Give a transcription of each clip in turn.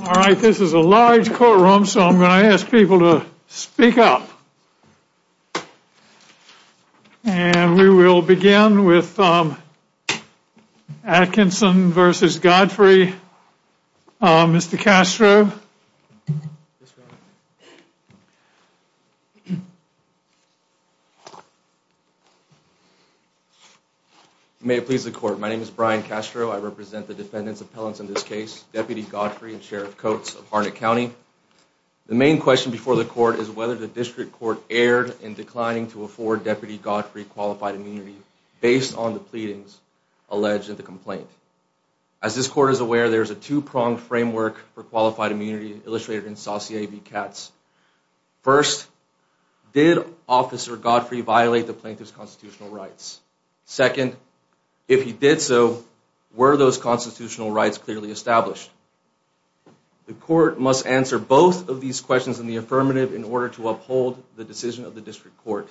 All right, this is a large courtroom, so I'm going to ask people to speak up. And we will begin with Atkinson versus Godfrey. Mr. Castro. May it please the court, my name is Brian Castro. I represent the defendants' appellants in this case, Deputy Godfrey and Sheriff Coates of Harnett County. The main question before the court is whether the district court erred in declining to afford Deputy Godfrey qualified immunity based on the pleadings alleged in the complaint. As this court is aware, there is a two-pronged framework for qualified immunity illustrated in Saucier v. Katz. First, did Officer Godfrey violate the plaintiff's constitutional rights? Second, if he did so, were those constitutional rights clearly established? The court must answer both of these questions in the affirmative in order to uphold the decision of the district court,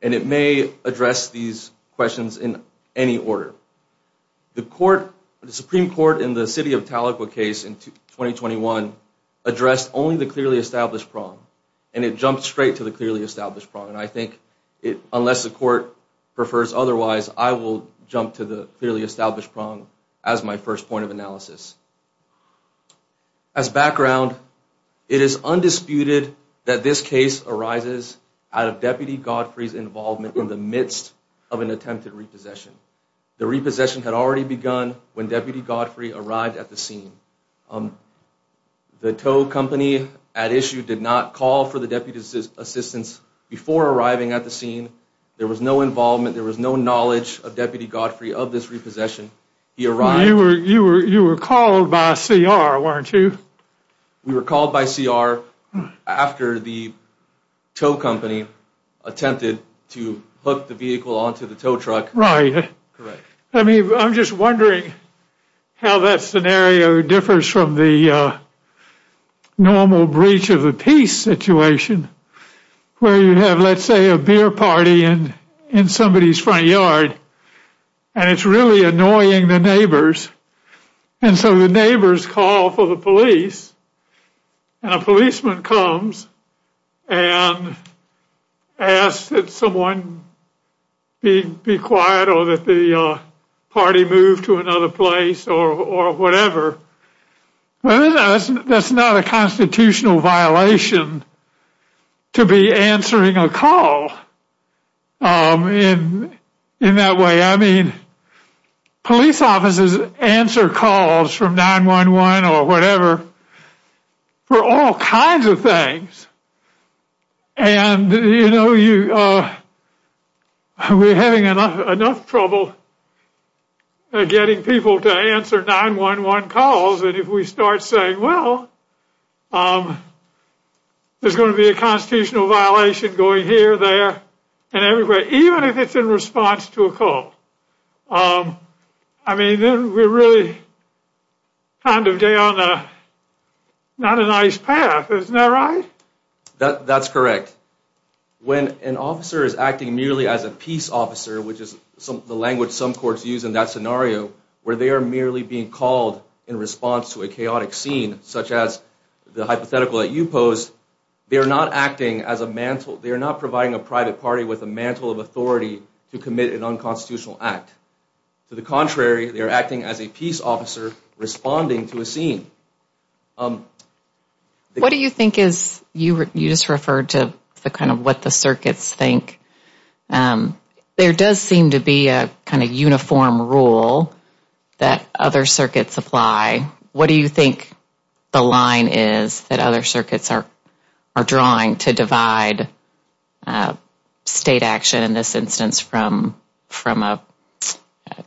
and it may address these questions in any order. The Supreme Court in the City of Tahlequah case in 2021 addressed only the clearly established prong, and it jumped straight to the clearly established prong. I think unless the court prefers otherwise, I will jump to the clearly established prong as my first point of analysis. As background, it is undisputed that this case arises out of Deputy Godfrey's involvement in the midst of an attempted repossession. The repossession had already begun when Deputy Godfrey arrived at the scene. The tow company at issue did not call for the deputy's assistance before arriving at the scene. There was no involvement, there was no knowledge of Deputy Godfrey of this repossession. He arrived... You were called by CR, weren't you? We were called by CR after the tow company attempted to hook the vehicle onto the tow truck. Right. Correct. I mean, I'm just wondering how that scenario differs from the normal breach of the peace situation where you have, let's say, a beer party in somebody's front yard, and it's really annoying the neighbors, and so the neighbors call for the police, and a policeman comes and asks that someone be quiet or that the party move to another place or whatever. That's not a constitutional violation to be answering a call in that way. I mean, police officers answer calls from 9-1-1 or whatever for all kinds of things, and you know, we're having enough trouble getting people to answer 9-1-1 calls, and if we start saying, well, there's going to be a constitutional violation going here, there, and everywhere, even if it's in response to a call, I mean, then we're really kind of down a... not a nice path, isn't that right? That's correct. When an officer is acting merely as a peace officer, which is the language some courts use in that scenario, where they are merely being called in response to a chaotic scene, such as the hypothetical that you posed, they are not acting as a mantle... they are not providing a private party with a mantle of authority to commit an unconstitutional act. To the contrary, they are acting as a peace officer responding to a scene. What do you think is... you just referred to the kind of what the circuits think. There does seem to be a kind of uniform rule that other circuits apply. What do you think the line is that other circuits are drawing to divide state action in this instance from a...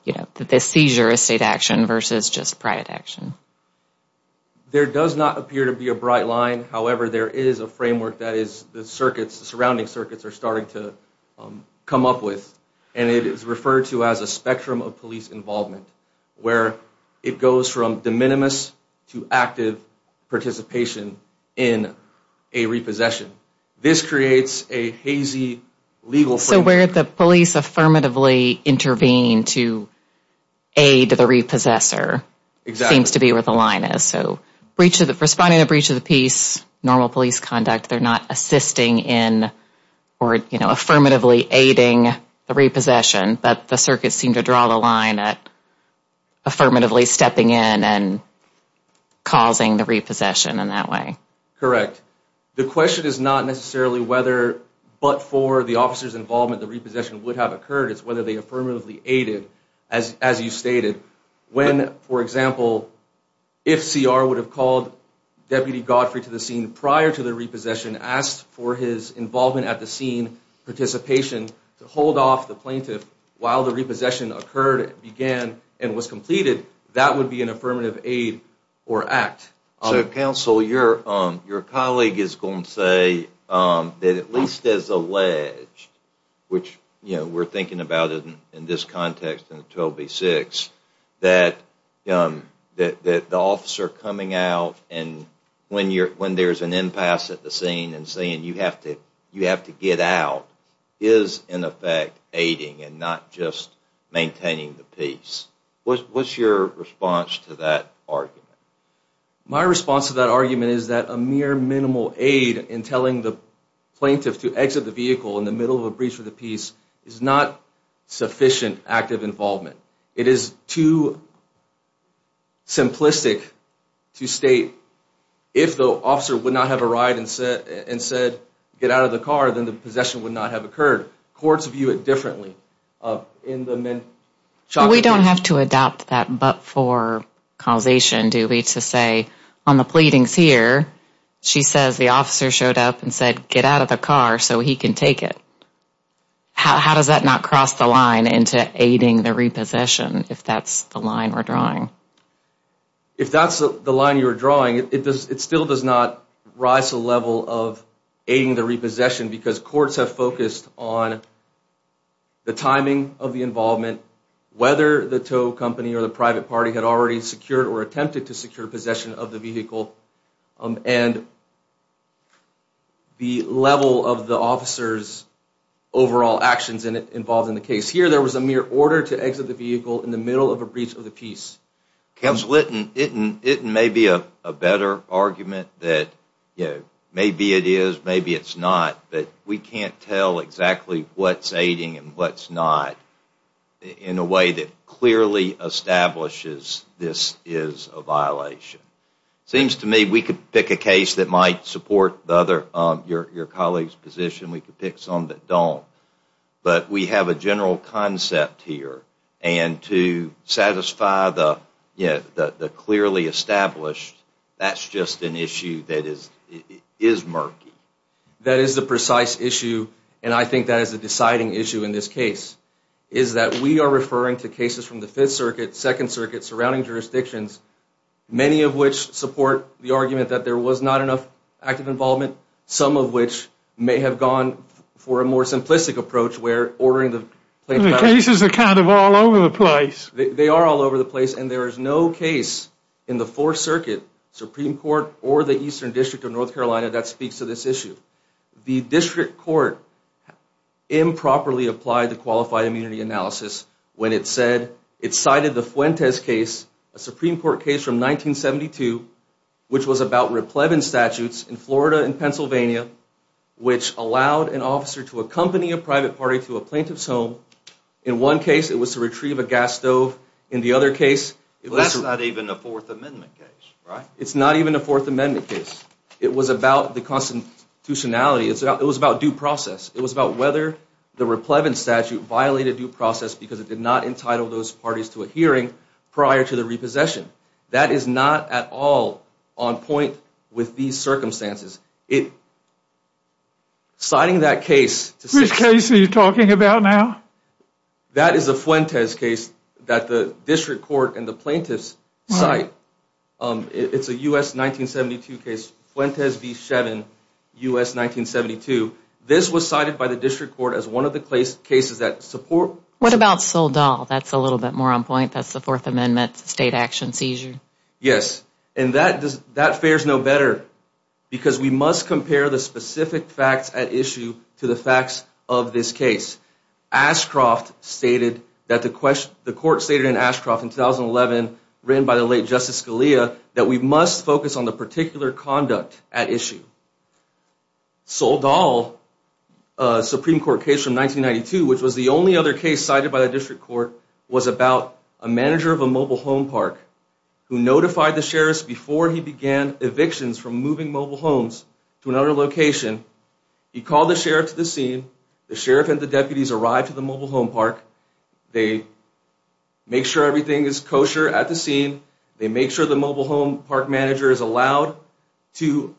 you know, the seizure of state action versus just private action? There does not appear to be a bright line. However, there is a framework that is... the circuits, the surrounding circuits are starting to come up with, and it is referred to as a spectrum of police involvement, where it goes from de minimis to active participation in a repossession. This creates a hazy legal framework. So where the police affirmatively intervene to aid the repossessor seems to be where the line is. So responding to a breach of the peace, normal police conduct, they are not assisting in or affirmatively aiding the repossession, but the circuits seem to draw the line at affirmatively stepping in and causing the repossession in that way. Correct. The question is not necessarily whether, but for the officer's involvement, the repossession would have occurred. It's whether they affirmatively aided, as you stated, when, for example, if CR would have called Deputy Godfrey to the scene prior to the repossession, asked for his involvement at the scene, participation to hold off the plaintiff while the repossession occurred, began, and was completed, that would be an affirmative aid or act. So, counsel, your colleague is going to say that at least as alleged, which we're thinking about it in this context in 12B6, that the officer coming out when there's an impasse at the scene and saying you have to get out is, in effect, aiding and not just maintaining the peace. What's your response to that argument? My response to that argument is that a mere minimal aid in telling the plaintiff to exit the vehicle in the middle of a breach of the peace is not sufficient active involvement. It is too simplistic to state if the officer would not have arrived and said, get out of the car, then the possession would not have occurred. Courts view it differently. We don't have to adopt that but for causation, do we, to say on the pleadings here, she says the officer showed up and said get out of the car so he can take it. How does that not cross the line into aiding the repossession, if that's the line we're drawing? If that's the line you're drawing, it still does not rise to the level of aiding the repossession because courts have focused on the timing of the involvement, whether the tow company or the private party had already secured or attempted to secure possession of the vehicle, and the level of the officer's overall actions involved in the case. Here there was a mere order to exit the vehicle in the middle of a breach of the peace. Counsel, it may be a better argument that maybe it is, maybe it's not, but we can't tell exactly what's aiding and what's not in a way that clearly establishes this is a violation. It seems to me we could pick a case that might support your colleague's position. We could pick some that don't. But we have a general concept here, and to satisfy the clearly established, that's just an issue that is murky. That is the precise issue, and I think that is the deciding issue in this case, is that we are referring to cases from the 5th Circuit, 2nd Circuit, surrounding jurisdictions, many of which support the argument that there was not enough active involvement, some of which may have gone for a more simplistic approach where ordering the plaintiff out. The cases are kind of all over the place. They are all over the place, and there is no case in the 4th Circuit, Supreme Court, or the Eastern District of North Carolina that speaks to this issue. The District Court improperly applied the Qualified Immunity Analysis when it said, it cited the Fuentes case, a Supreme Court case from 1972, which was about replevin statutes in Florida and Pennsylvania, which allowed an officer to accompany a private party to a plaintiff's home. In one case, it was to retrieve a gas stove. In the other case, it was to... Well, that's not even a Fourth Amendment case, right? It's not even a Fourth Amendment case. It was about the constitutionality. It was about due process. It was about whether the replevin statute violated due process because it did not entitle those parties to a hearing prior to the repossession. That is not at all on point with these circumstances. Citing that case... Which case are you talking about now? That is a Fuentes case that the District Court and the plaintiffs cite. It's a U.S. 1972 case, Fuentes v. Shevin, U.S. 1972. This was cited by the District Court as one of the cases that support... What about Soledad? That's a little bit more on point. That's the Fourth Amendment state action seizure. Yes. And that fares no better because we must compare the specific facts at issue to the facts of this case. Ashcroft stated that the court stated in Ashcroft in 2011, written by the late Justice Scalia, that we must focus on the particular conduct at issue. Soledad, a Supreme Court case from 1992, which was the only other case cited by the District Court, was about a manager of a mobile home park who notified the sheriff before he began evictions from moving mobile homes to another location. He called the sheriff to the scene. The sheriff and the deputies arrived to the mobile home park. They make sure everything is kosher at the scene. They make sure the mobile home park manager is allowed to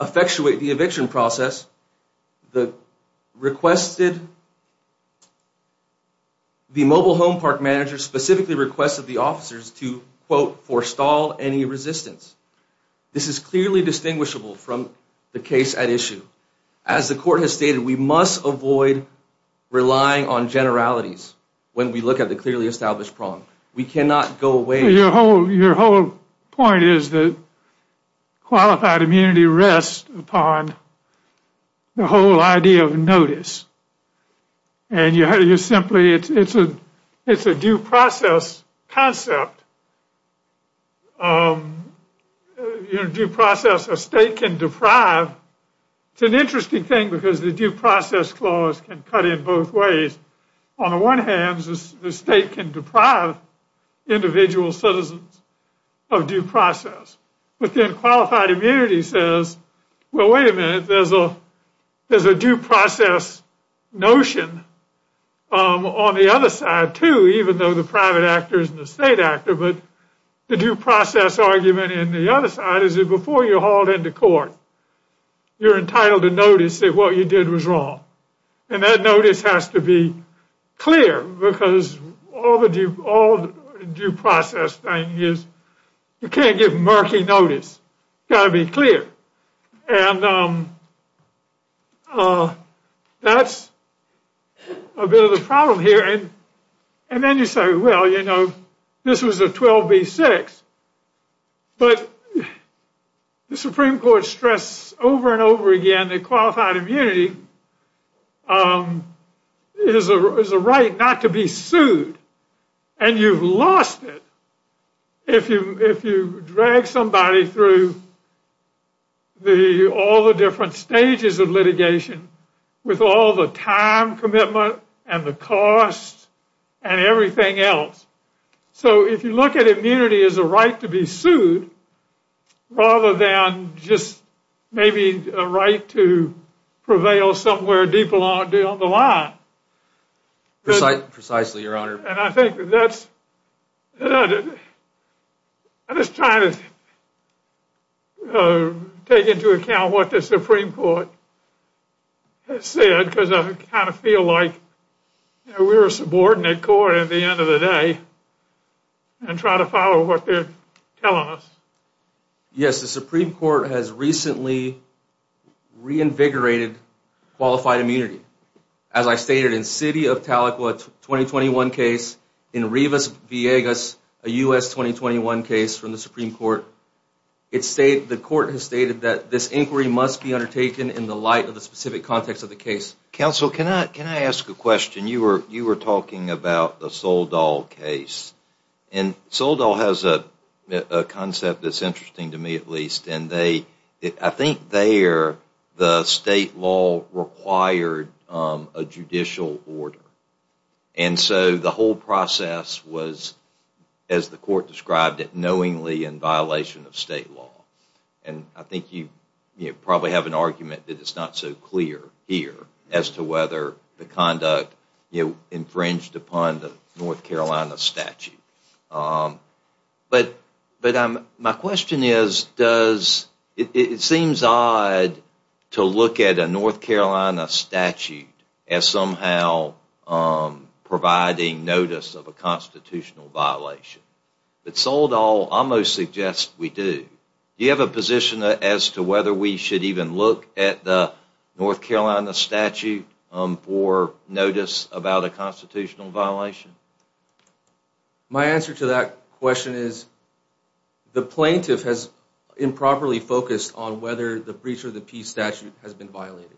effectuate the eviction process. The requested... The mobile home park manager specifically requested the officers to, quote, forestall any resistance. This is clearly distinguishable from the case at issue. As the court has stated, we must avoid relying on generalities when we look at the clearly established problem. We cannot go away... Your whole point is that qualified immunity rests upon the whole idea of notice. And you simply... It's a due process concept. Due process, a state can deprive. It's an interesting thing because the due process clause can cut in both ways. On the one hand, the state can deprive individual citizens of due process. But then qualified immunity says, well, wait a minute, there's a due process notion on the other side, too, even though the private actor isn't a state actor, but the due process argument in the other side is that before you're hauled into court, you're entitled to notice that what you did was wrong. And that notice has to be clear because all the due process thing is you can't give murky notice. It's got to be clear. And that's a bit of the problem here. And then you say, well, you know, this was a 12B6. But the Supreme Court stressed over and over again that qualified immunity is a right not to be sued. And you've lost it if you drag somebody through all the different stages of litigation with all the time commitment and the cost and everything else. So if you look at immunity as a right to be sued, rather than just maybe a right to prevail somewhere deep along the line, and I think that's, I'm just trying to take into account what the Supreme Court has said because I kind of feel like we're a subordinate court at the end of the day and try to follow what they're telling us. Yes, the Supreme Court has recently reinvigorated qualified immunity. As I stated in City of Tahlequah 2021 case, in Rivas-Villegas, a US 2021 case from the Supreme Court, the court has stated that this inquiry must be undertaken in the light of the specific context of the case. Counsel, can I ask a question? You were talking about the Soledal case, and Soledal has a concept that's interesting to me at least, and I think there the state law required a judicial order. And so the whole process was, as the court described it, knowingly in violation of state law. And I think you probably have an argument that it's not so clear here as to whether the conduct infringed upon the North Carolina statute. But my question is, does, it seems odd to look at a North Carolina statute as somehow providing notice of a constitutional violation. But Soledal almost suggests we do. Do you have a position as to whether we should even look at the North Carolina statute for notice about a constitutional violation? My answer to that question is, the plaintiff has improperly focused on whether the breach of the peace statute has been violated.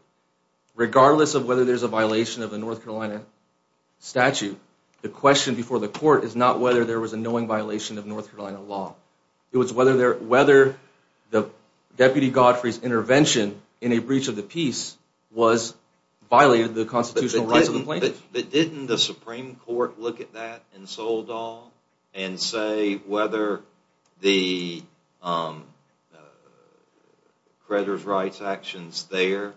Regardless of whether there's a violation of the North Carolina statute, the question before the court is not whether there was a knowing violation of North Carolina law. It was whether the Deputy Godfrey's intervention in a breach of the peace was violated the constitutional rights of the plaintiff. But didn't the Supreme Court look at that in Soledal and say whether the creditor's rights actions there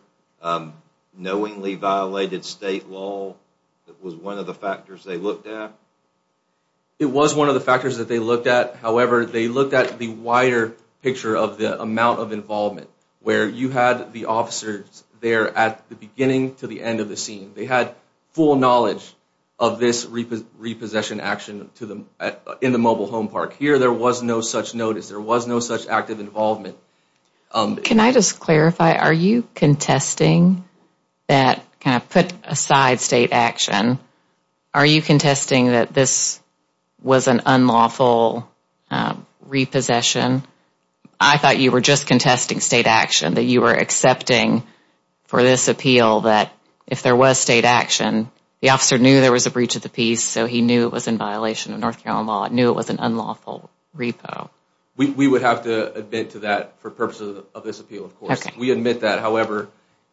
knowingly violated state law was one of the factors they looked at? It was one of the factors that they looked at. However, they looked at the wider picture of the amount of involvement where you had the officers there at the beginning to the end of the scene. They had full knowledge of this repossession action to them in the mobile home park. Here, there was no such notice. There was no such active involvement. Can I just clarify, are you contesting that kind of put aside state action? Are you contesting that this was an unlawful repossession? I thought you were just contesting state action, that you were accepting for this appeal that if there was state action, the officer knew there was a breach of the peace, so he knew it was in violation of North Carolina law, knew it was an unlawful repo. We would have to admit to that for purposes of this appeal. Of course, we admit that. However,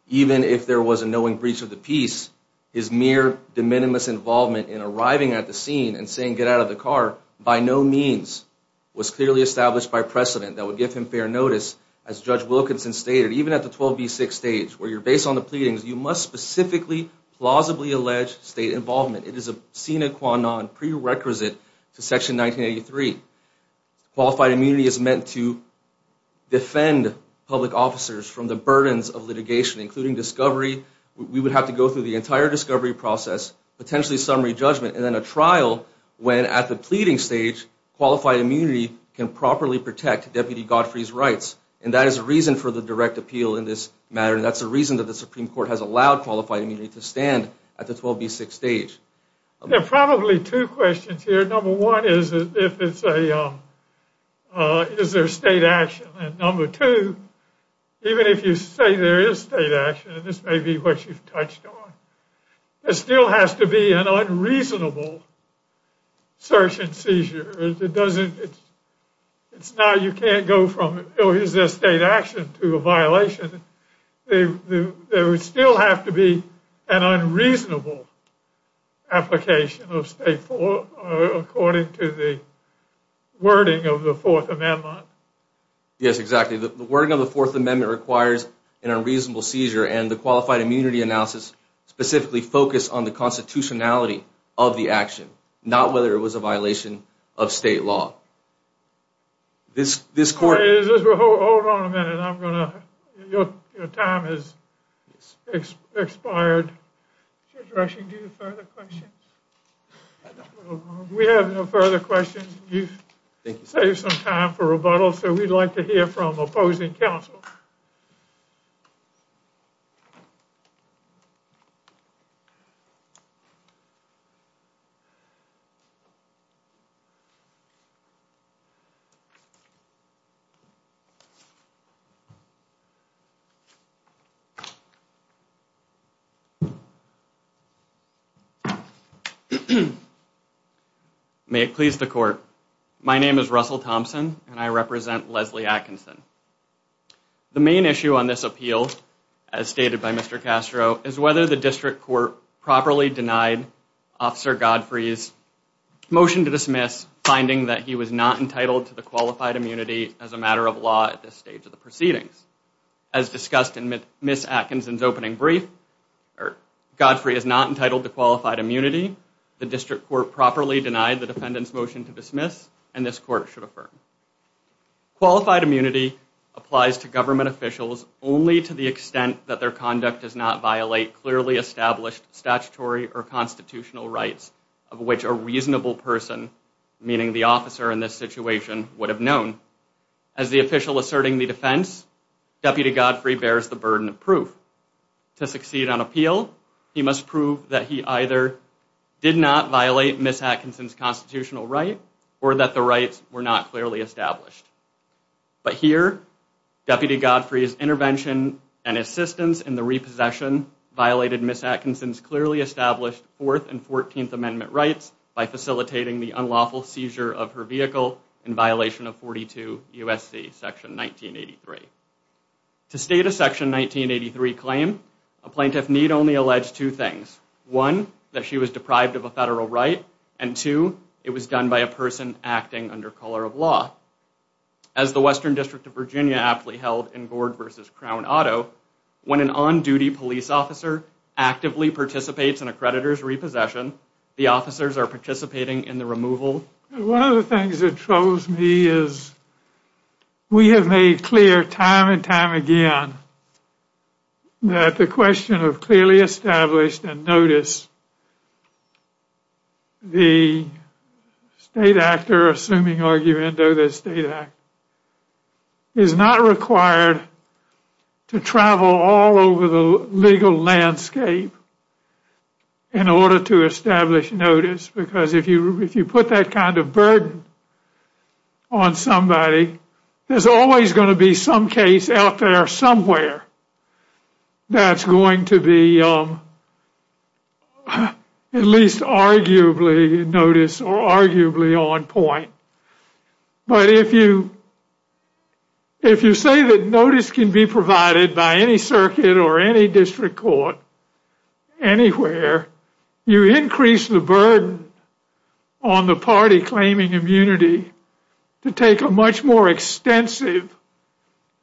even if there was a knowing breach of the peace, his mere de minimis involvement in arriving at the scene and saying, get out of the car, by no means was clearly established by precedent that would give him fair notice. As Judge Wilkinson stated, even at the 12B6 stage, where you're based on the pleadings, you must specifically, plausibly allege state involvement. It is a sine qua non prerequisite to Section 1983. Qualified immunity is meant to defend public officers from the burdens of litigation, including discovery. We would have to go through the entire discovery process, potentially summary judgment, and then a trial when, at the pleading stage, qualified immunity can properly protect Deputy Godfrey's rights. And that is the reason for the direct appeal in this matter, and that's the reason that the Supreme Court has allowed qualified immunity to stand at the 12B6 stage. There are probably two questions here. Number one is, if it's a, is there state action? And number two, even if you say there is state action, and this may be what you've touched on, there still has to be an unreasonable search and seizure. It doesn't, it's not, you can't go from, oh, is there state action to a violation. There would still have to be an unreasonable application of state, according to the wording of the Fourth Amendment. Yes, exactly. The wording of the Fourth Amendment requires an unreasonable seizure, and the qualified immunity analysis specifically focused on the constitutionality of the action, not whether it was a violation of state law. This, this court. Hold on a minute, I'm going to, your time has expired. Is there direction to do further questions? I don't know. We have no further questions. Thank you. You've saved some time for rebuttal, so we'd like to hear from opposing counsel. May it please the court. My name is Russell Thompson, and I represent Leslie Atkinson. The main issue on this appeal, as stated by Mr. Castro, is whether the district court properly denied Officer Godfrey's motion to dismiss, finding that he was not entitled to the qualified immunity as a matter of law at this stage of the proceedings. As discussed in Ms. Atkinson's opening brief, Godfrey is not entitled to qualified immunity. The district court properly denied the defendant's motion to dismiss, and this court should affirm. Qualified immunity applies to government officials only to the extent that their conduct does not violate clearly established statutory or constitutional rights of which a reasonable person, meaning the officer in this situation, would have known. As the official asserting the defense, Deputy Godfrey bears the burden of proof. To succeed on appeal, he must prove that he either did not violate Ms. Atkinson's constitutional right or that the rights were not clearly established. But here, Deputy Godfrey's intervention and assistance in the repossession violated Ms. Atkinson's clearly established Fourth and Fourteenth Amendment rights by facilitating the unlawful seizure of her vehicle in violation of 42 U.S.C. section 1983. To state a section 1983 claim, a plaintiff need only allege two things. One, that she was deprived of a federal right, and two, it was done by a person acting under color of law. As the Western District of Virginia aptly held in Gord v. Crown Auto, when an on-duty police officer actively participates in a creditor's repossession, the officers are participating in the removal. One of the things that troubles me is we have made clear time and time again that the question of clearly established and notice, the state actor assuming argument of the state act, is not required to travel all over the legal landscape in order to establish notice. Because if you put that kind of burden on somebody, there's always going to be some case out there somewhere that's going to be at least arguably notice or arguably on point. But if you say that notice can be provided by any circuit or any district court anywhere, you increase the burden on the party claiming immunity to take a much more extensive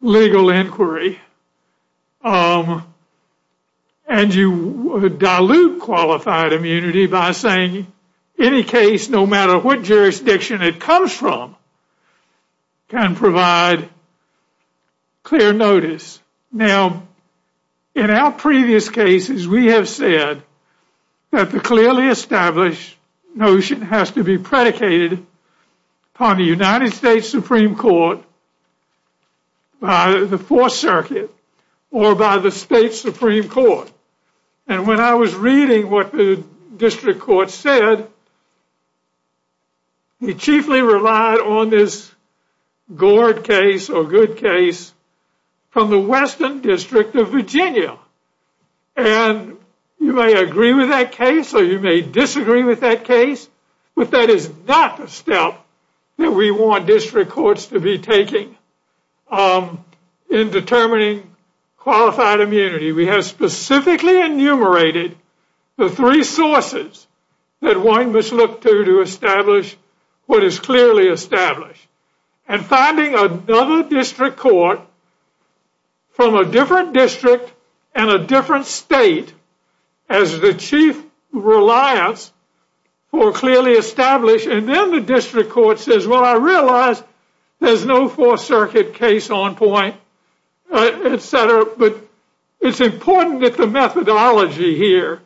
legal inquiry. And you dilute qualified immunity by saying any case, no matter what jurisdiction it comes from, can provide clear notice. Now, in our previous cases, we have said that the clearly established notion has to be predicated on the United States Supreme Court by the Fourth Circuit or by the state Supreme Court. And when I was reading what the district court said, he chiefly relied on this Gord case or good case from the Western District of Virginia. And you may agree with that case or you may disagree with that case, but that is not the step that we want district courts to be taking in determining qualified immunity. We have specifically enumerated the three sources that one must look to to establish what is clearly established and finding another district court from a different district and a different state as the chief reliance for clearly established and then the district court says, well, I realize there's no Fourth Circuit case on point, etc. But it's important that the methodology here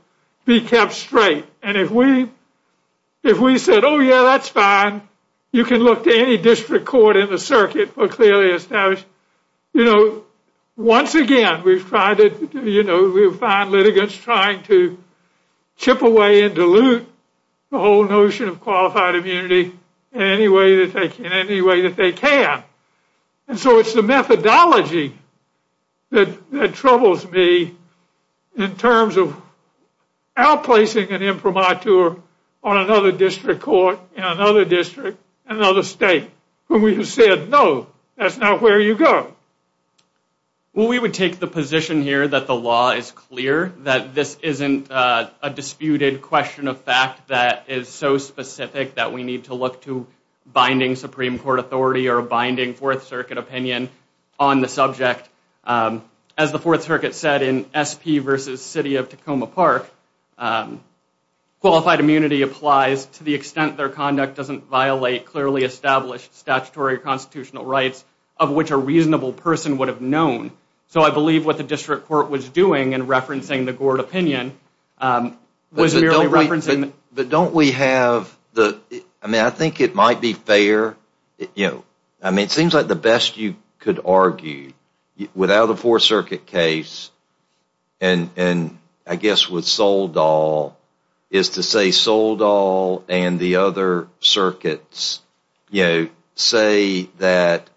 be kept straight. And if we if we said, oh, yeah, that's fine. You can look to any district court in the circuit for clearly established. You know, once again, we've tried it. You know, we find litigants trying to chip away and dilute the whole notion of qualified immunity in any way that they can, any way that they can. And so it's the methodology that troubles me in terms of outplacing an imprimatur on another district court in another district, another state. When we said, no, that's not where you go. Well, we would take the position here that the law is clear, that this isn't a disputed question of fact that is so specific that we need to look to binding Supreme Court authority or a binding Fourth Circuit opinion on the subject. As the Fourth Circuit said in SP versus City of Tacoma Park, qualified immunity applies to the extent their conduct doesn't violate clearly established statutory constitutional rights of which a reasonable person would have known. So I believe what the district court was doing in referencing the Gord opinion was merely referencing. But don't we have the, I mean, I think it might be fair. You know, I mean, it seems like the best you could argue without a Fourth Circuit case and I guess with Soledal is to say Soledal and the other circuits, you know, say that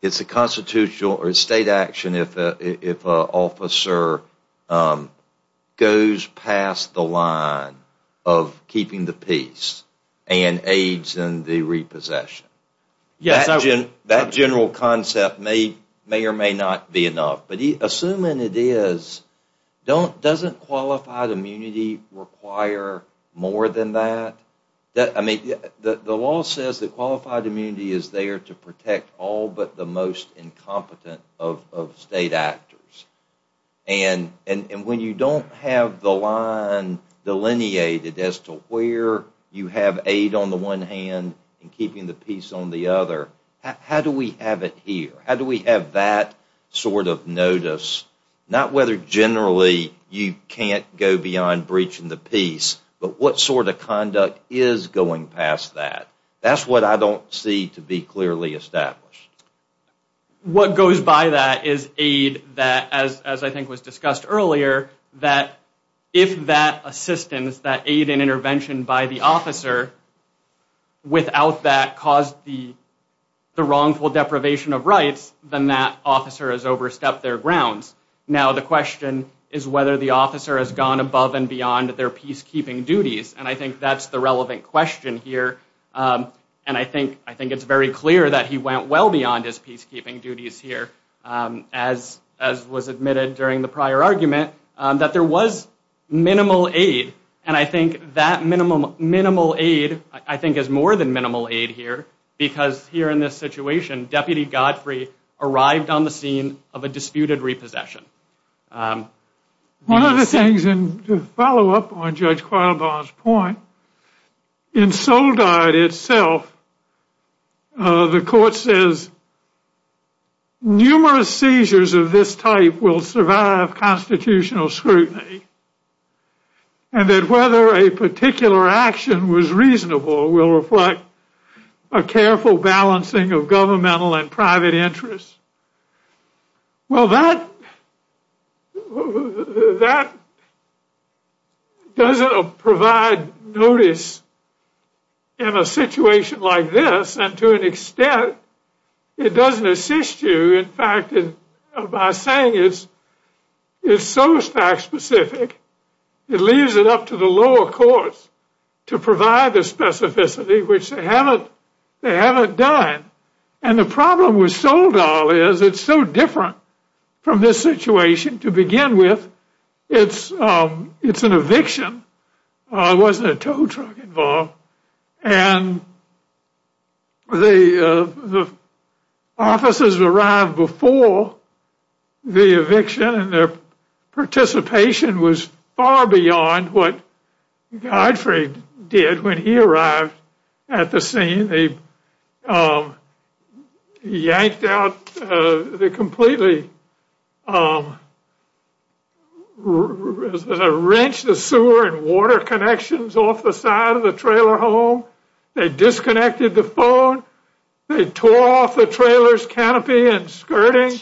it's a constitutional or state action if an officer goes past the line of keeping the peace and aids in the repossession. That general concept may or may not be enough. But assuming it is, doesn't qualified immunity require more than that? I mean, the law says that qualified immunity is there to protect all but the most incompetent of state actors. And when you don't have the line delineated as to where you have aid on the one hand and keeping the peace on the other, how do we have it here? How do we have that sort of notice? Not whether generally you can't go beyond breaching the peace but what sort of conduct is going past that? That's what I don't see to be clearly established. What goes by that is aid that, as I think was discussed earlier, that if that assistance, that aid and intervention by the officer without that caused the wrongful deprivation of rights, then that officer has overstepped their grounds. Now the question is whether the officer has gone above and beyond their peacekeeping duties. And I think that's the relevant question here. And I think it's very clear that he went well beyond his peacekeeping duties here, as was admitted during the prior argument, that there was minimal aid. And I think that minimal aid, I think, is more than minimal aid here because here in this situation, Deputy Godfrey arrived on the scene of a disputed repossession. One of the things, and to follow up on Judge Quattlebar's point, in Soledad itself, the court says numerous seizures of this type will survive constitutional scrutiny and that whether a particular action was reasonable will reflect a careful balancing of governmental and private interests. Well, that doesn't provide notice in a situation like this. And to an extent, it doesn't assist you. In fact, by saying it's so fact specific, it leaves it up to the lower courts to provide the specificity, which they haven't done. And the problem with Soledad is it's so different from this situation. To begin with, it's an eviction. There wasn't a tow truck involved. And the officers arrived before the eviction, and their participation was far beyond what Godfrey did when he arrived at the scene. They yanked out, they completely wrenched the sewer and water connections off the side of the trailer home. They disconnected the phone. They tore off the trailer's canopy and skirting,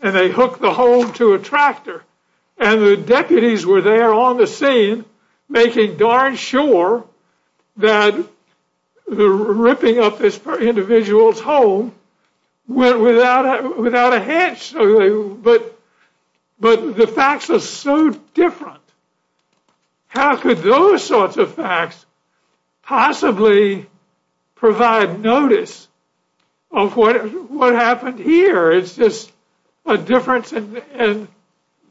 and they hooked the home to a tractor. And the deputies were there on the scene making darn sure that the ripping up this individual's home went without a hitch. But the facts are so different. How could those sorts of facts possibly provide notice of what happened here? It's just a difference.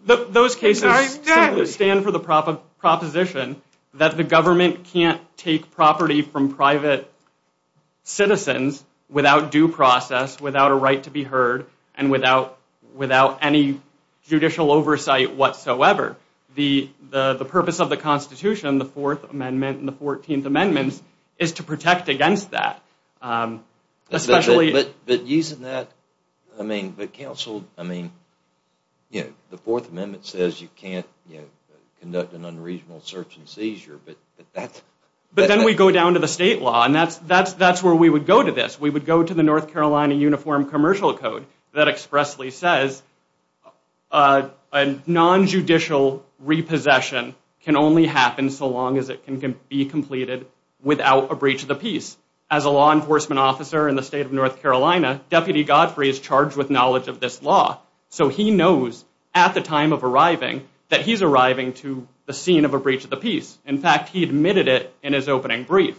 Those cases stand for the proposition that the government can't take property from private citizens without due process, without a right to be heard, and without any judicial oversight whatsoever. The purpose of the Constitution, the Fourth Amendment and the Fourteenth Amendments, is to protect against that. But using that, I mean, the Fourth Amendment says you can't conduct an unreasonable search and seizure. But then we go down to the state law, and that's where we would go to this. We would go to the North Carolina Uniform Commercial Code that expressly says a non-judicial repossession can only happen so long as it can be completed without a breach of the peace. As a law enforcement officer in the state of North Carolina, Deputy Godfrey is charged with knowledge of this law. So he knows at the time of arriving that he's arriving to the scene of a breach of the peace. In fact, he admitted it in his opening brief.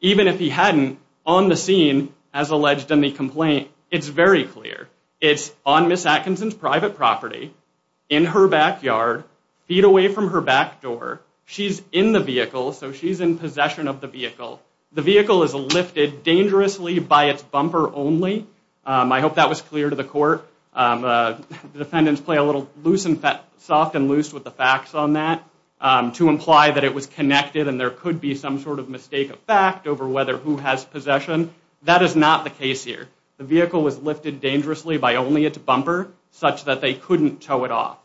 Even if he hadn't, on the scene, as alleged in the complaint, it's very clear. It's on Ms. Atkinson's private property, in her backyard, feet away from her back door. She's in the vehicle, so she's in possession of the vehicle. The vehicle is lifted dangerously by its bumper only. I hope that was clear to the court. Defendants play a little soft and loose with the facts on that to imply that it was connected and there could be some sort of mistake of fact over whether who has possession. That is not the case here. The vehicle was lifted dangerously by only its bumper such that they couldn't tow it off.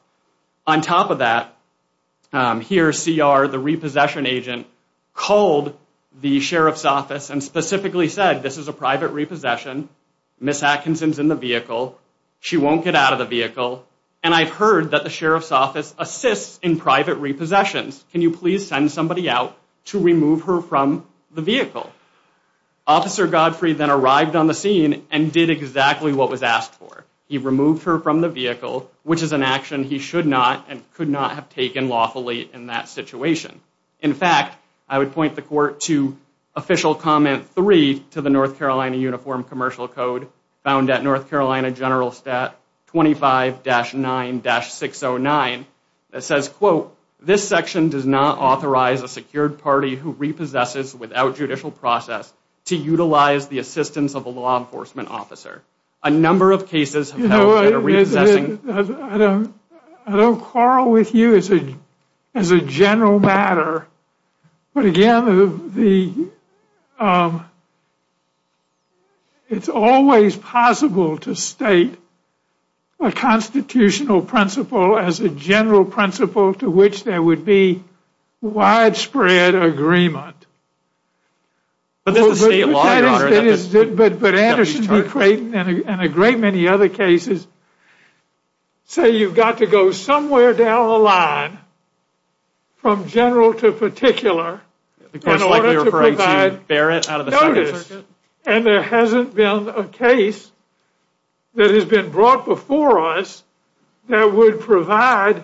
On top of that, here CR, the repossession agent, called the sheriff's office and specifically said this is a private repossession. Ms. Atkinson's in the vehicle. She won't get out of the vehicle. And I've heard that the sheriff's office assists in private repossessions. Can you please send somebody out to remove her from the vehicle? Officer Godfrey then arrived on the scene and did exactly what was asked for. He removed her from the vehicle, which is an action he should not and could not have taken lawfully in that situation. In fact, I would point the court to official comment three to the North Carolina Uniform Commercial Code found at North Carolina General Stat 25-9-609 that says, quote, this section does not authorize a secured party who repossesses without judicial process to utilize the assistance of a law enforcement officer. A number of cases have been repossessing. I don't quarrel with you as a general matter. But again, it's always possible to state a constitutional principle as a general principle to which there would be widespread agreement. But Anderson and Creighton and a great many other cases say you've got to go somewhere down the line from general to particular in order to provide notice. And there hasn't been a case that has been brought before us that would provide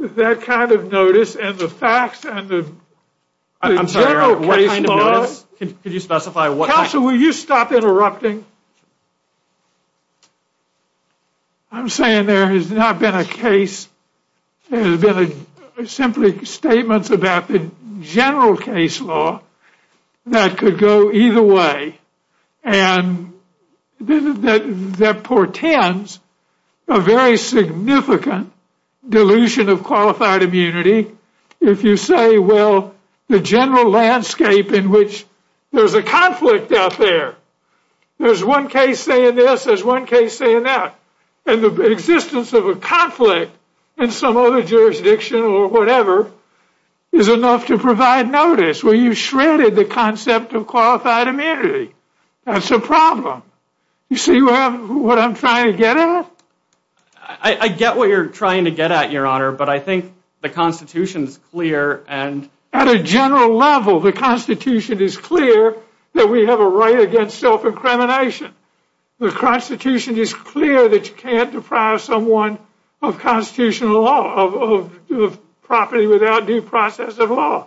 that kind of notice and the facts and the general case law. I'm sorry, what kind of notice? Could you specify what kind of notice? Counsel, will you stop interrupting? I'm saying there has not been a case. There have been simply statements about the general case law that could go either way. And that portends a very significant dilution of qualified immunity. If you say, well, the general landscape in which there's a conflict out there, there's one case saying this, there's one case saying that. And the existence of a conflict in some other jurisdiction or whatever is enough to provide notice where you shredded the concept of qualified immunity. It's a problem. You see what I'm trying to get at? I get what you're trying to get at, Your Honor. But I think the Constitution is clear. And at a general level, the Constitution is clear that we have a right against self-incrimination. The Constitution is clear that you can't deprive someone of constitutional law, of property without due process of law.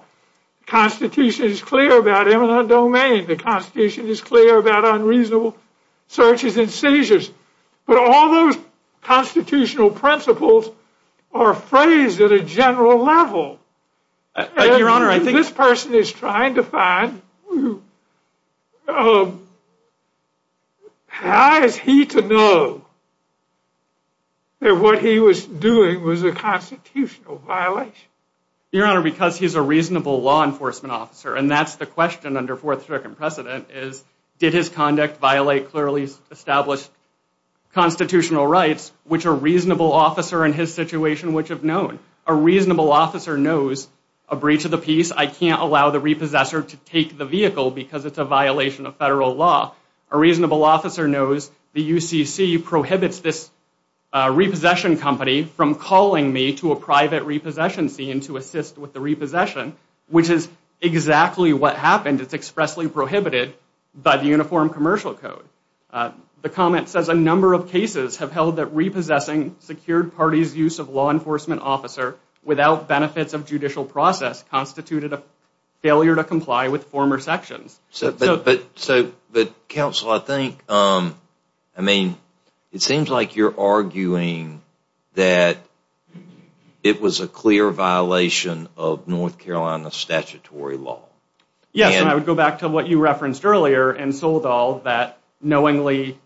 Constitution is clear about eminent domain. The Constitution is clear about unreasonable searches and seizures. But all those constitutional principles are phrased at a general level. This person is trying to find, how is he to know that what he was doing was a constitutional violation? Your Honor, because he's a reasonable law enforcement officer, and that's the question under Fourth Circuit precedent is, did his conduct violate clearly established constitutional rights, which a reasonable officer in his situation would have known? A reasonable officer knows a breach of the peace, I can't allow the repossessor to take the vehicle because it's a violation of federal law. A reasonable officer knows the UCC prohibits this repossession company from calling me to a private repossession scene to assist with the repossession, which is exactly what happened. It's expressly prohibited by the Uniform Commercial Code. The comment says a number of cases have held that repossessing secured parties use of law enforcement officer without benefits of judicial process constituted a failure to comply with former sections. So, but counsel, I think, I mean, it seems like you're arguing that it was a clear violation of North Carolina statutory law. Yes, and I would go back to what you referenced earlier in Soledad that knowingly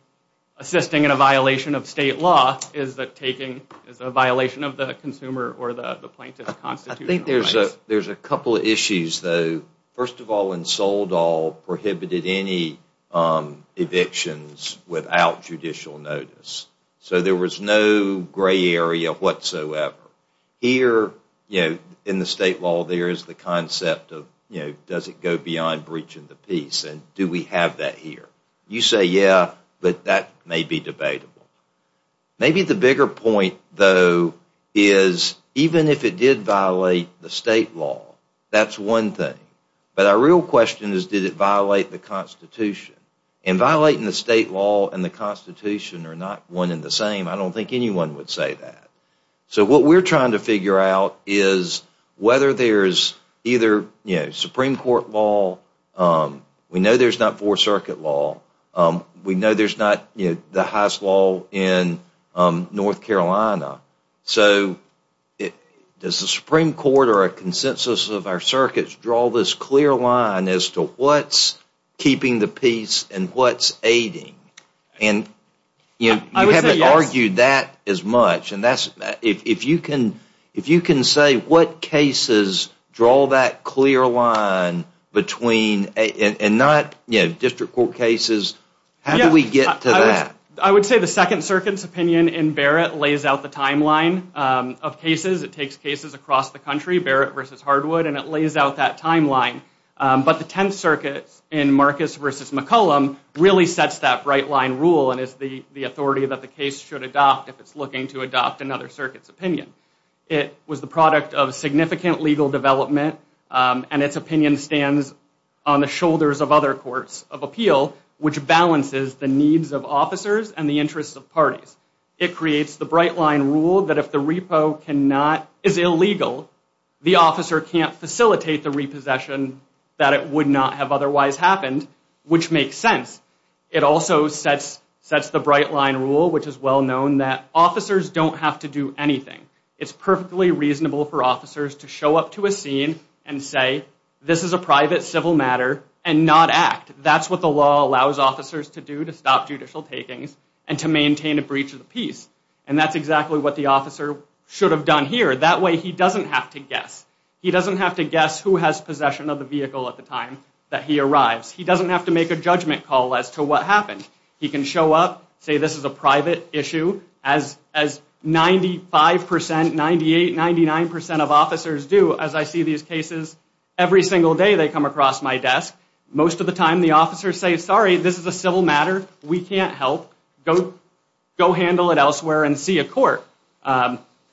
assisting in a violation of state law is a violation of the consumer or the plaintiff's constitutional rights. There's a couple of issues, though. First of all, Soledad prohibited any evictions without judicial notice. So there was no gray area whatsoever. Here, you know, in the state law, there is the concept of, you know, does it go beyond breach of the peace? And do we have that here? You say, yeah, but that may be debatable. Maybe the bigger point, though, is even if it did violate the state law, that's one thing. But our real question is, did it violate the Constitution? And violating the state law and the Constitution are not one and the same. I don't think anyone would say that. So what we're trying to figure out is whether there's either, you know, Supreme Court law. We know there's not four circuit law. We know there's not the highest law in North Carolina. So does the Supreme Court or a consensus of our circuits draw this clear line as to what's breaking the peace and what's aiding? And you haven't argued that as much. And that's, if you can say what cases draw that clear line between, and not, you know, district court cases, how do we get to that? I would say the Second Circuit's opinion in Barrett lays out the timeline of cases. It takes cases across the country, Barrett versus Hardwood, and it lays out that timeline. But the Tenth Circuit in Marcus versus McCollum really sets that bright line rule and is the authority that the case should adopt if it's looking to adopt another circuit's opinion. It was the product of significant legal development. And its opinion stands on the shoulders of other courts of appeal, which balances the needs of officers and the interests of parties. It creates the bright line rule that if the repo is illegal, the officer can't facilitate the repossession that it would not have otherwise happened, which makes sense. It also sets the bright line rule, which is well known, that officers don't have to do anything. It's perfectly reasonable for officers to show up to a scene and say, this is a private civil matter, and not act. That's what the law allows officers to do to stop judicial takings and to maintain a breach of the peace. And that's exactly what the officer should have done here. That way, he doesn't have to guess. He doesn't have to guess who has possession of the vehicle at the time that he arrives. He doesn't have to make a judgment call as to what happened. He can show up, say this is a private issue, as 95%, 98%, 99% of officers do, as I see these cases. Every single day, they come across my desk. Most of the time, the officers say, sorry, this is a civil matter. We can't help. Go handle it elsewhere and see a court.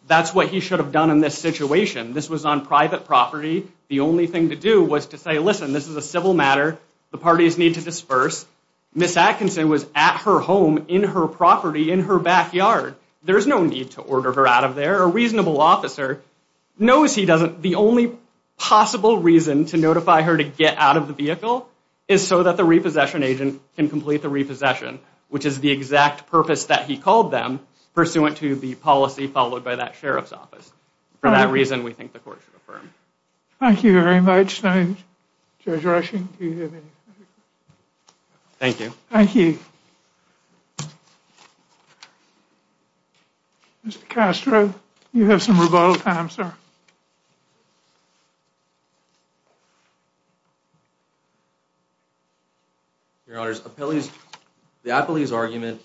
That's what he should have done in this situation. This was on private property. The only thing to do was to say, listen, this is a civil matter. The parties need to disperse. Miss Atkinson was at her home, in her property, in her backyard. There's no need to order her out of there. A reasonable officer knows he doesn't. The only possible reason to notify her to get out of the vehicle is so that the repossession agent can complete the repossession, which is the exact purpose that he called them, pursuant to the policy followed by that sheriff's office. For that reason, we think the court should affirm. Thank you very much, Judge Rushing. Thank you. Thank you. Mr. Castro, you have some rebuttal time, sir. Your Honors, the Appellee's argument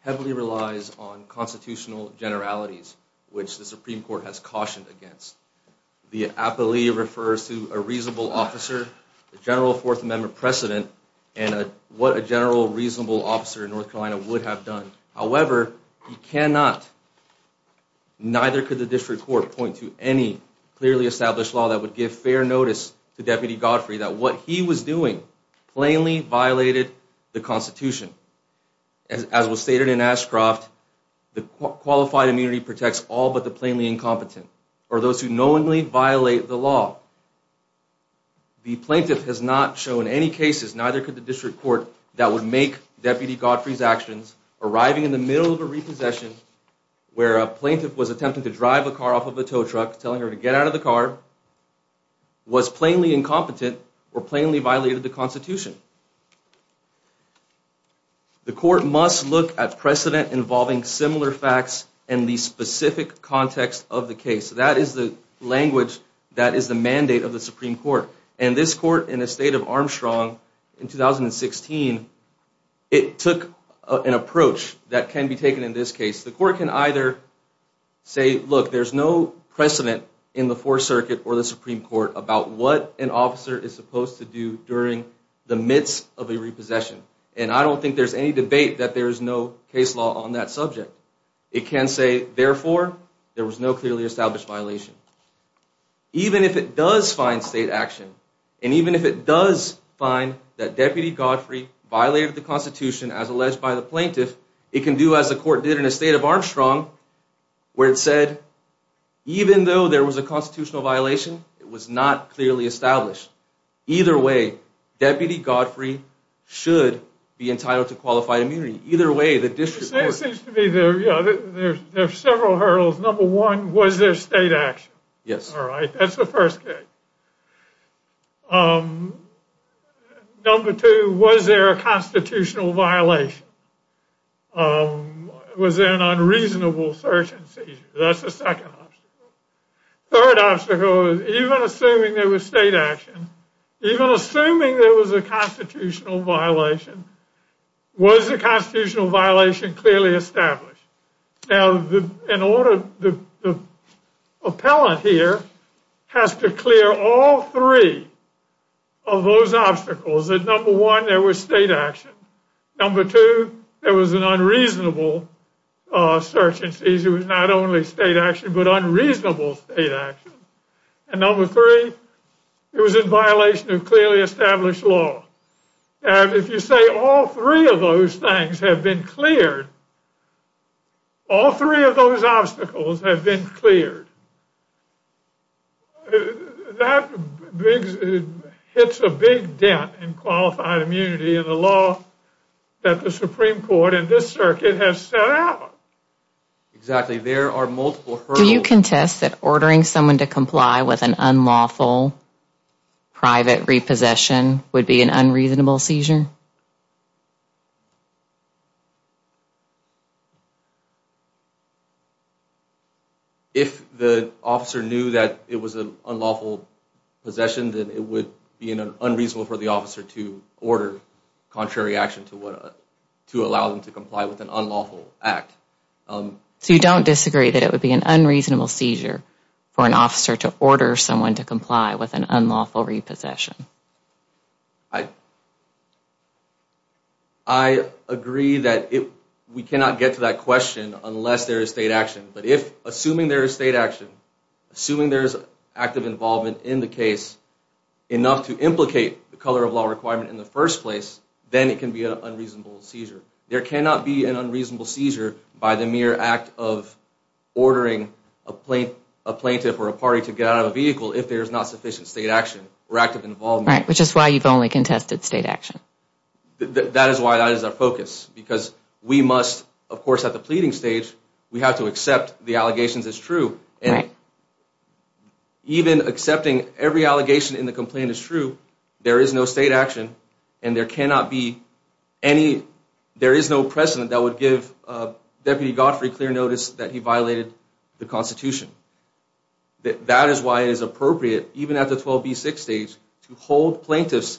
heavily relies on constitutional generalities, which the Supreme Court has cautioned against. The Appellee refers to a reasonable officer, a general Fourth Amendment precedent, and what a general reasonable officer in North Carolina would have done. However, you cannot, neither could the District Court point to any clearly established law that would give fair notice to Deputy Godfrey that what he was doing plainly violated the Constitution. As was stated in Ashcroft, the qualified immunity protects all but the plainly incompetent, or those who knowingly violate the law. The plaintiff has not shown any cases, neither could the District Court, that would make Deputy Godfrey's actions, arriving in the middle of a repossession, where a plaintiff was attempting to drive a car off of a tow truck, telling her to get out of the car, was plainly incompetent, or plainly violated the Constitution. The Court must look at precedent involving similar facts in the specific context of the case. That is the language that is the mandate of the Supreme Court. And this Court, in the state of Armstrong, in 2016, it took an approach that can be taken in this case. The Court can either say, look, there's no precedent in the Fourth Circuit or the Supreme Court about what an officer is supposed to do during the midst of a repossession. And I don't think there's any debate that there is no case law on that subject. It can say, therefore, there was no clearly established violation. Even if it does find state action, and even if it does find that Deputy Godfrey violated the Constitution as alleged by the plaintiff, it can do as the Court did in the state of Armstrong, where it said, even though there was a constitutional violation, it was not clearly established. Either way, Deputy Godfrey should be entitled to qualified immunity. Either way, the District Court- It seems to me there are several hurdles. Number one, was there state action? Yes. All right, that's the first case. Number two, was there a constitutional violation? Was there an unreasonable search and seizure? That's the second obstacle. Third obstacle is, even assuming there was state action, even assuming there was a constitutional violation, was the constitutional violation clearly established? Now, the appellant here has to clear all three of those obstacles. Number one, there was state action. Number two, there was an unreasonable search and seizure. Not only state action, but unreasonable state action. And number three, it was in violation of clearly established law. And if you say all three of those things have been cleared, all three of those obstacles have been cleared, that hits a big dent in qualified immunity in the law that the Supreme Court in this circuit has set out. Exactly. There are multiple hurdles- Do you contest that ordering someone to comply with an unlawful private repossession would be an unreasonable seizure? If the officer knew that it was an unlawful possession, then it would be unreasonable for the officer to order contrary action to allow them to comply with an unlawful act. So you don't disagree that it would be an unreasonable seizure for an officer to order someone to comply with an unlawful repossession? I agree that we cannot get to that question unless there is state action. But if, assuming there is state action, assuming there is active involvement in the case enough to implicate the color of law requirement in the first place, then it can be an unreasonable seizure. There cannot be an unreasonable seizure by the mere act of ordering a plaintiff or a party to get out of a vehicle if there is not sufficient state action or active involvement. Right. Which is why you've only contested state action. That is why that is our focus. Because we must, of course, at the pleading stage, we have to accept the allegations as true. And even accepting every allegation in the complaint as true, there is no state action, and there cannot be any, there is no precedent that would give Deputy Godfrey clear notice that he violated the Constitution. That is why it is appropriate, even at the 12B6 stage, to hold plaintiffs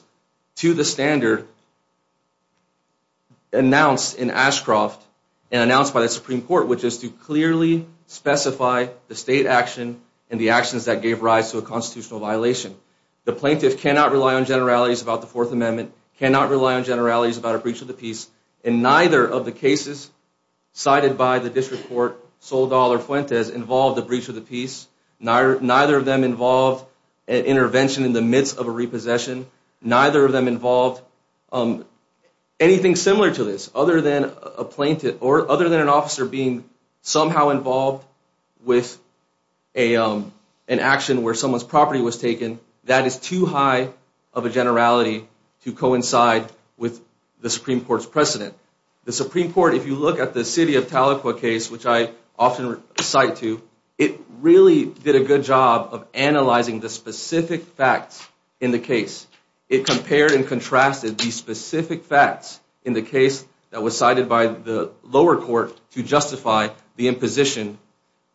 to the standard announced in Ashcroft and announced by the Supreme Court, which is to clearly specify the state action and the actions that gave rise to a constitutional violation. The plaintiff cannot rely on generalities about the Fourth Amendment, cannot rely on generalities about a breach of the peace, and neither of the cases cited by the District Court, Soledad or Fuentes, involved a breach of the peace. Neither of them involved an intervention in the midst of a repossession. Neither of them involved anything similar to this, other than a plaintiff or other than an officer being somehow involved with an action where someone's property was taken that is too high of a generality to coincide with the Supreme Court's precedent. The Supreme Court, if you look at the City of Tahlequah case, which I often cite to, it really did a good job of analyzing the specific facts in the case. It compared and contrasted these specific facts in the case that was cited by the lower court to justify the imposition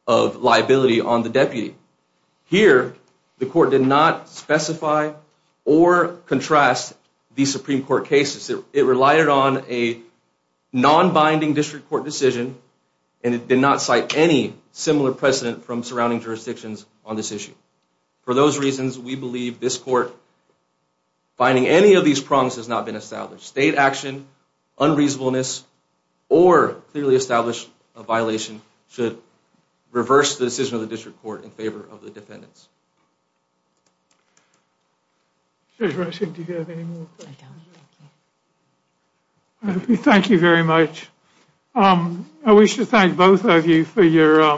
of liability on the deputy. Here, the court did not specify or contrast the Supreme Court cases. It relied on a non-binding District Court decision and it did not cite any similar precedent from surrounding jurisdictions on this issue. For those reasons, we believe this court finding any of these problems has not been established. State action, unreasonableness, or clearly established violation should reverse the decision of the District Court in favor of the defendants. Thank you very much. I wish to thank both of you for your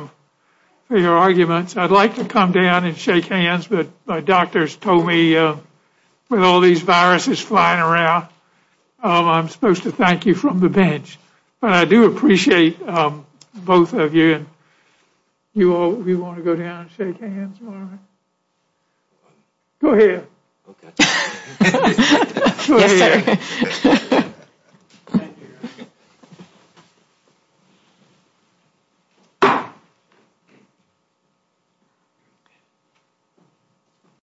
arguments. I'd like to come down and shake hands, but my doctors told me with all these viruses flying around, I'm supposed to thank you from the bench. But I do appreciate both of you. You want to go down and shake hands? Go ahead.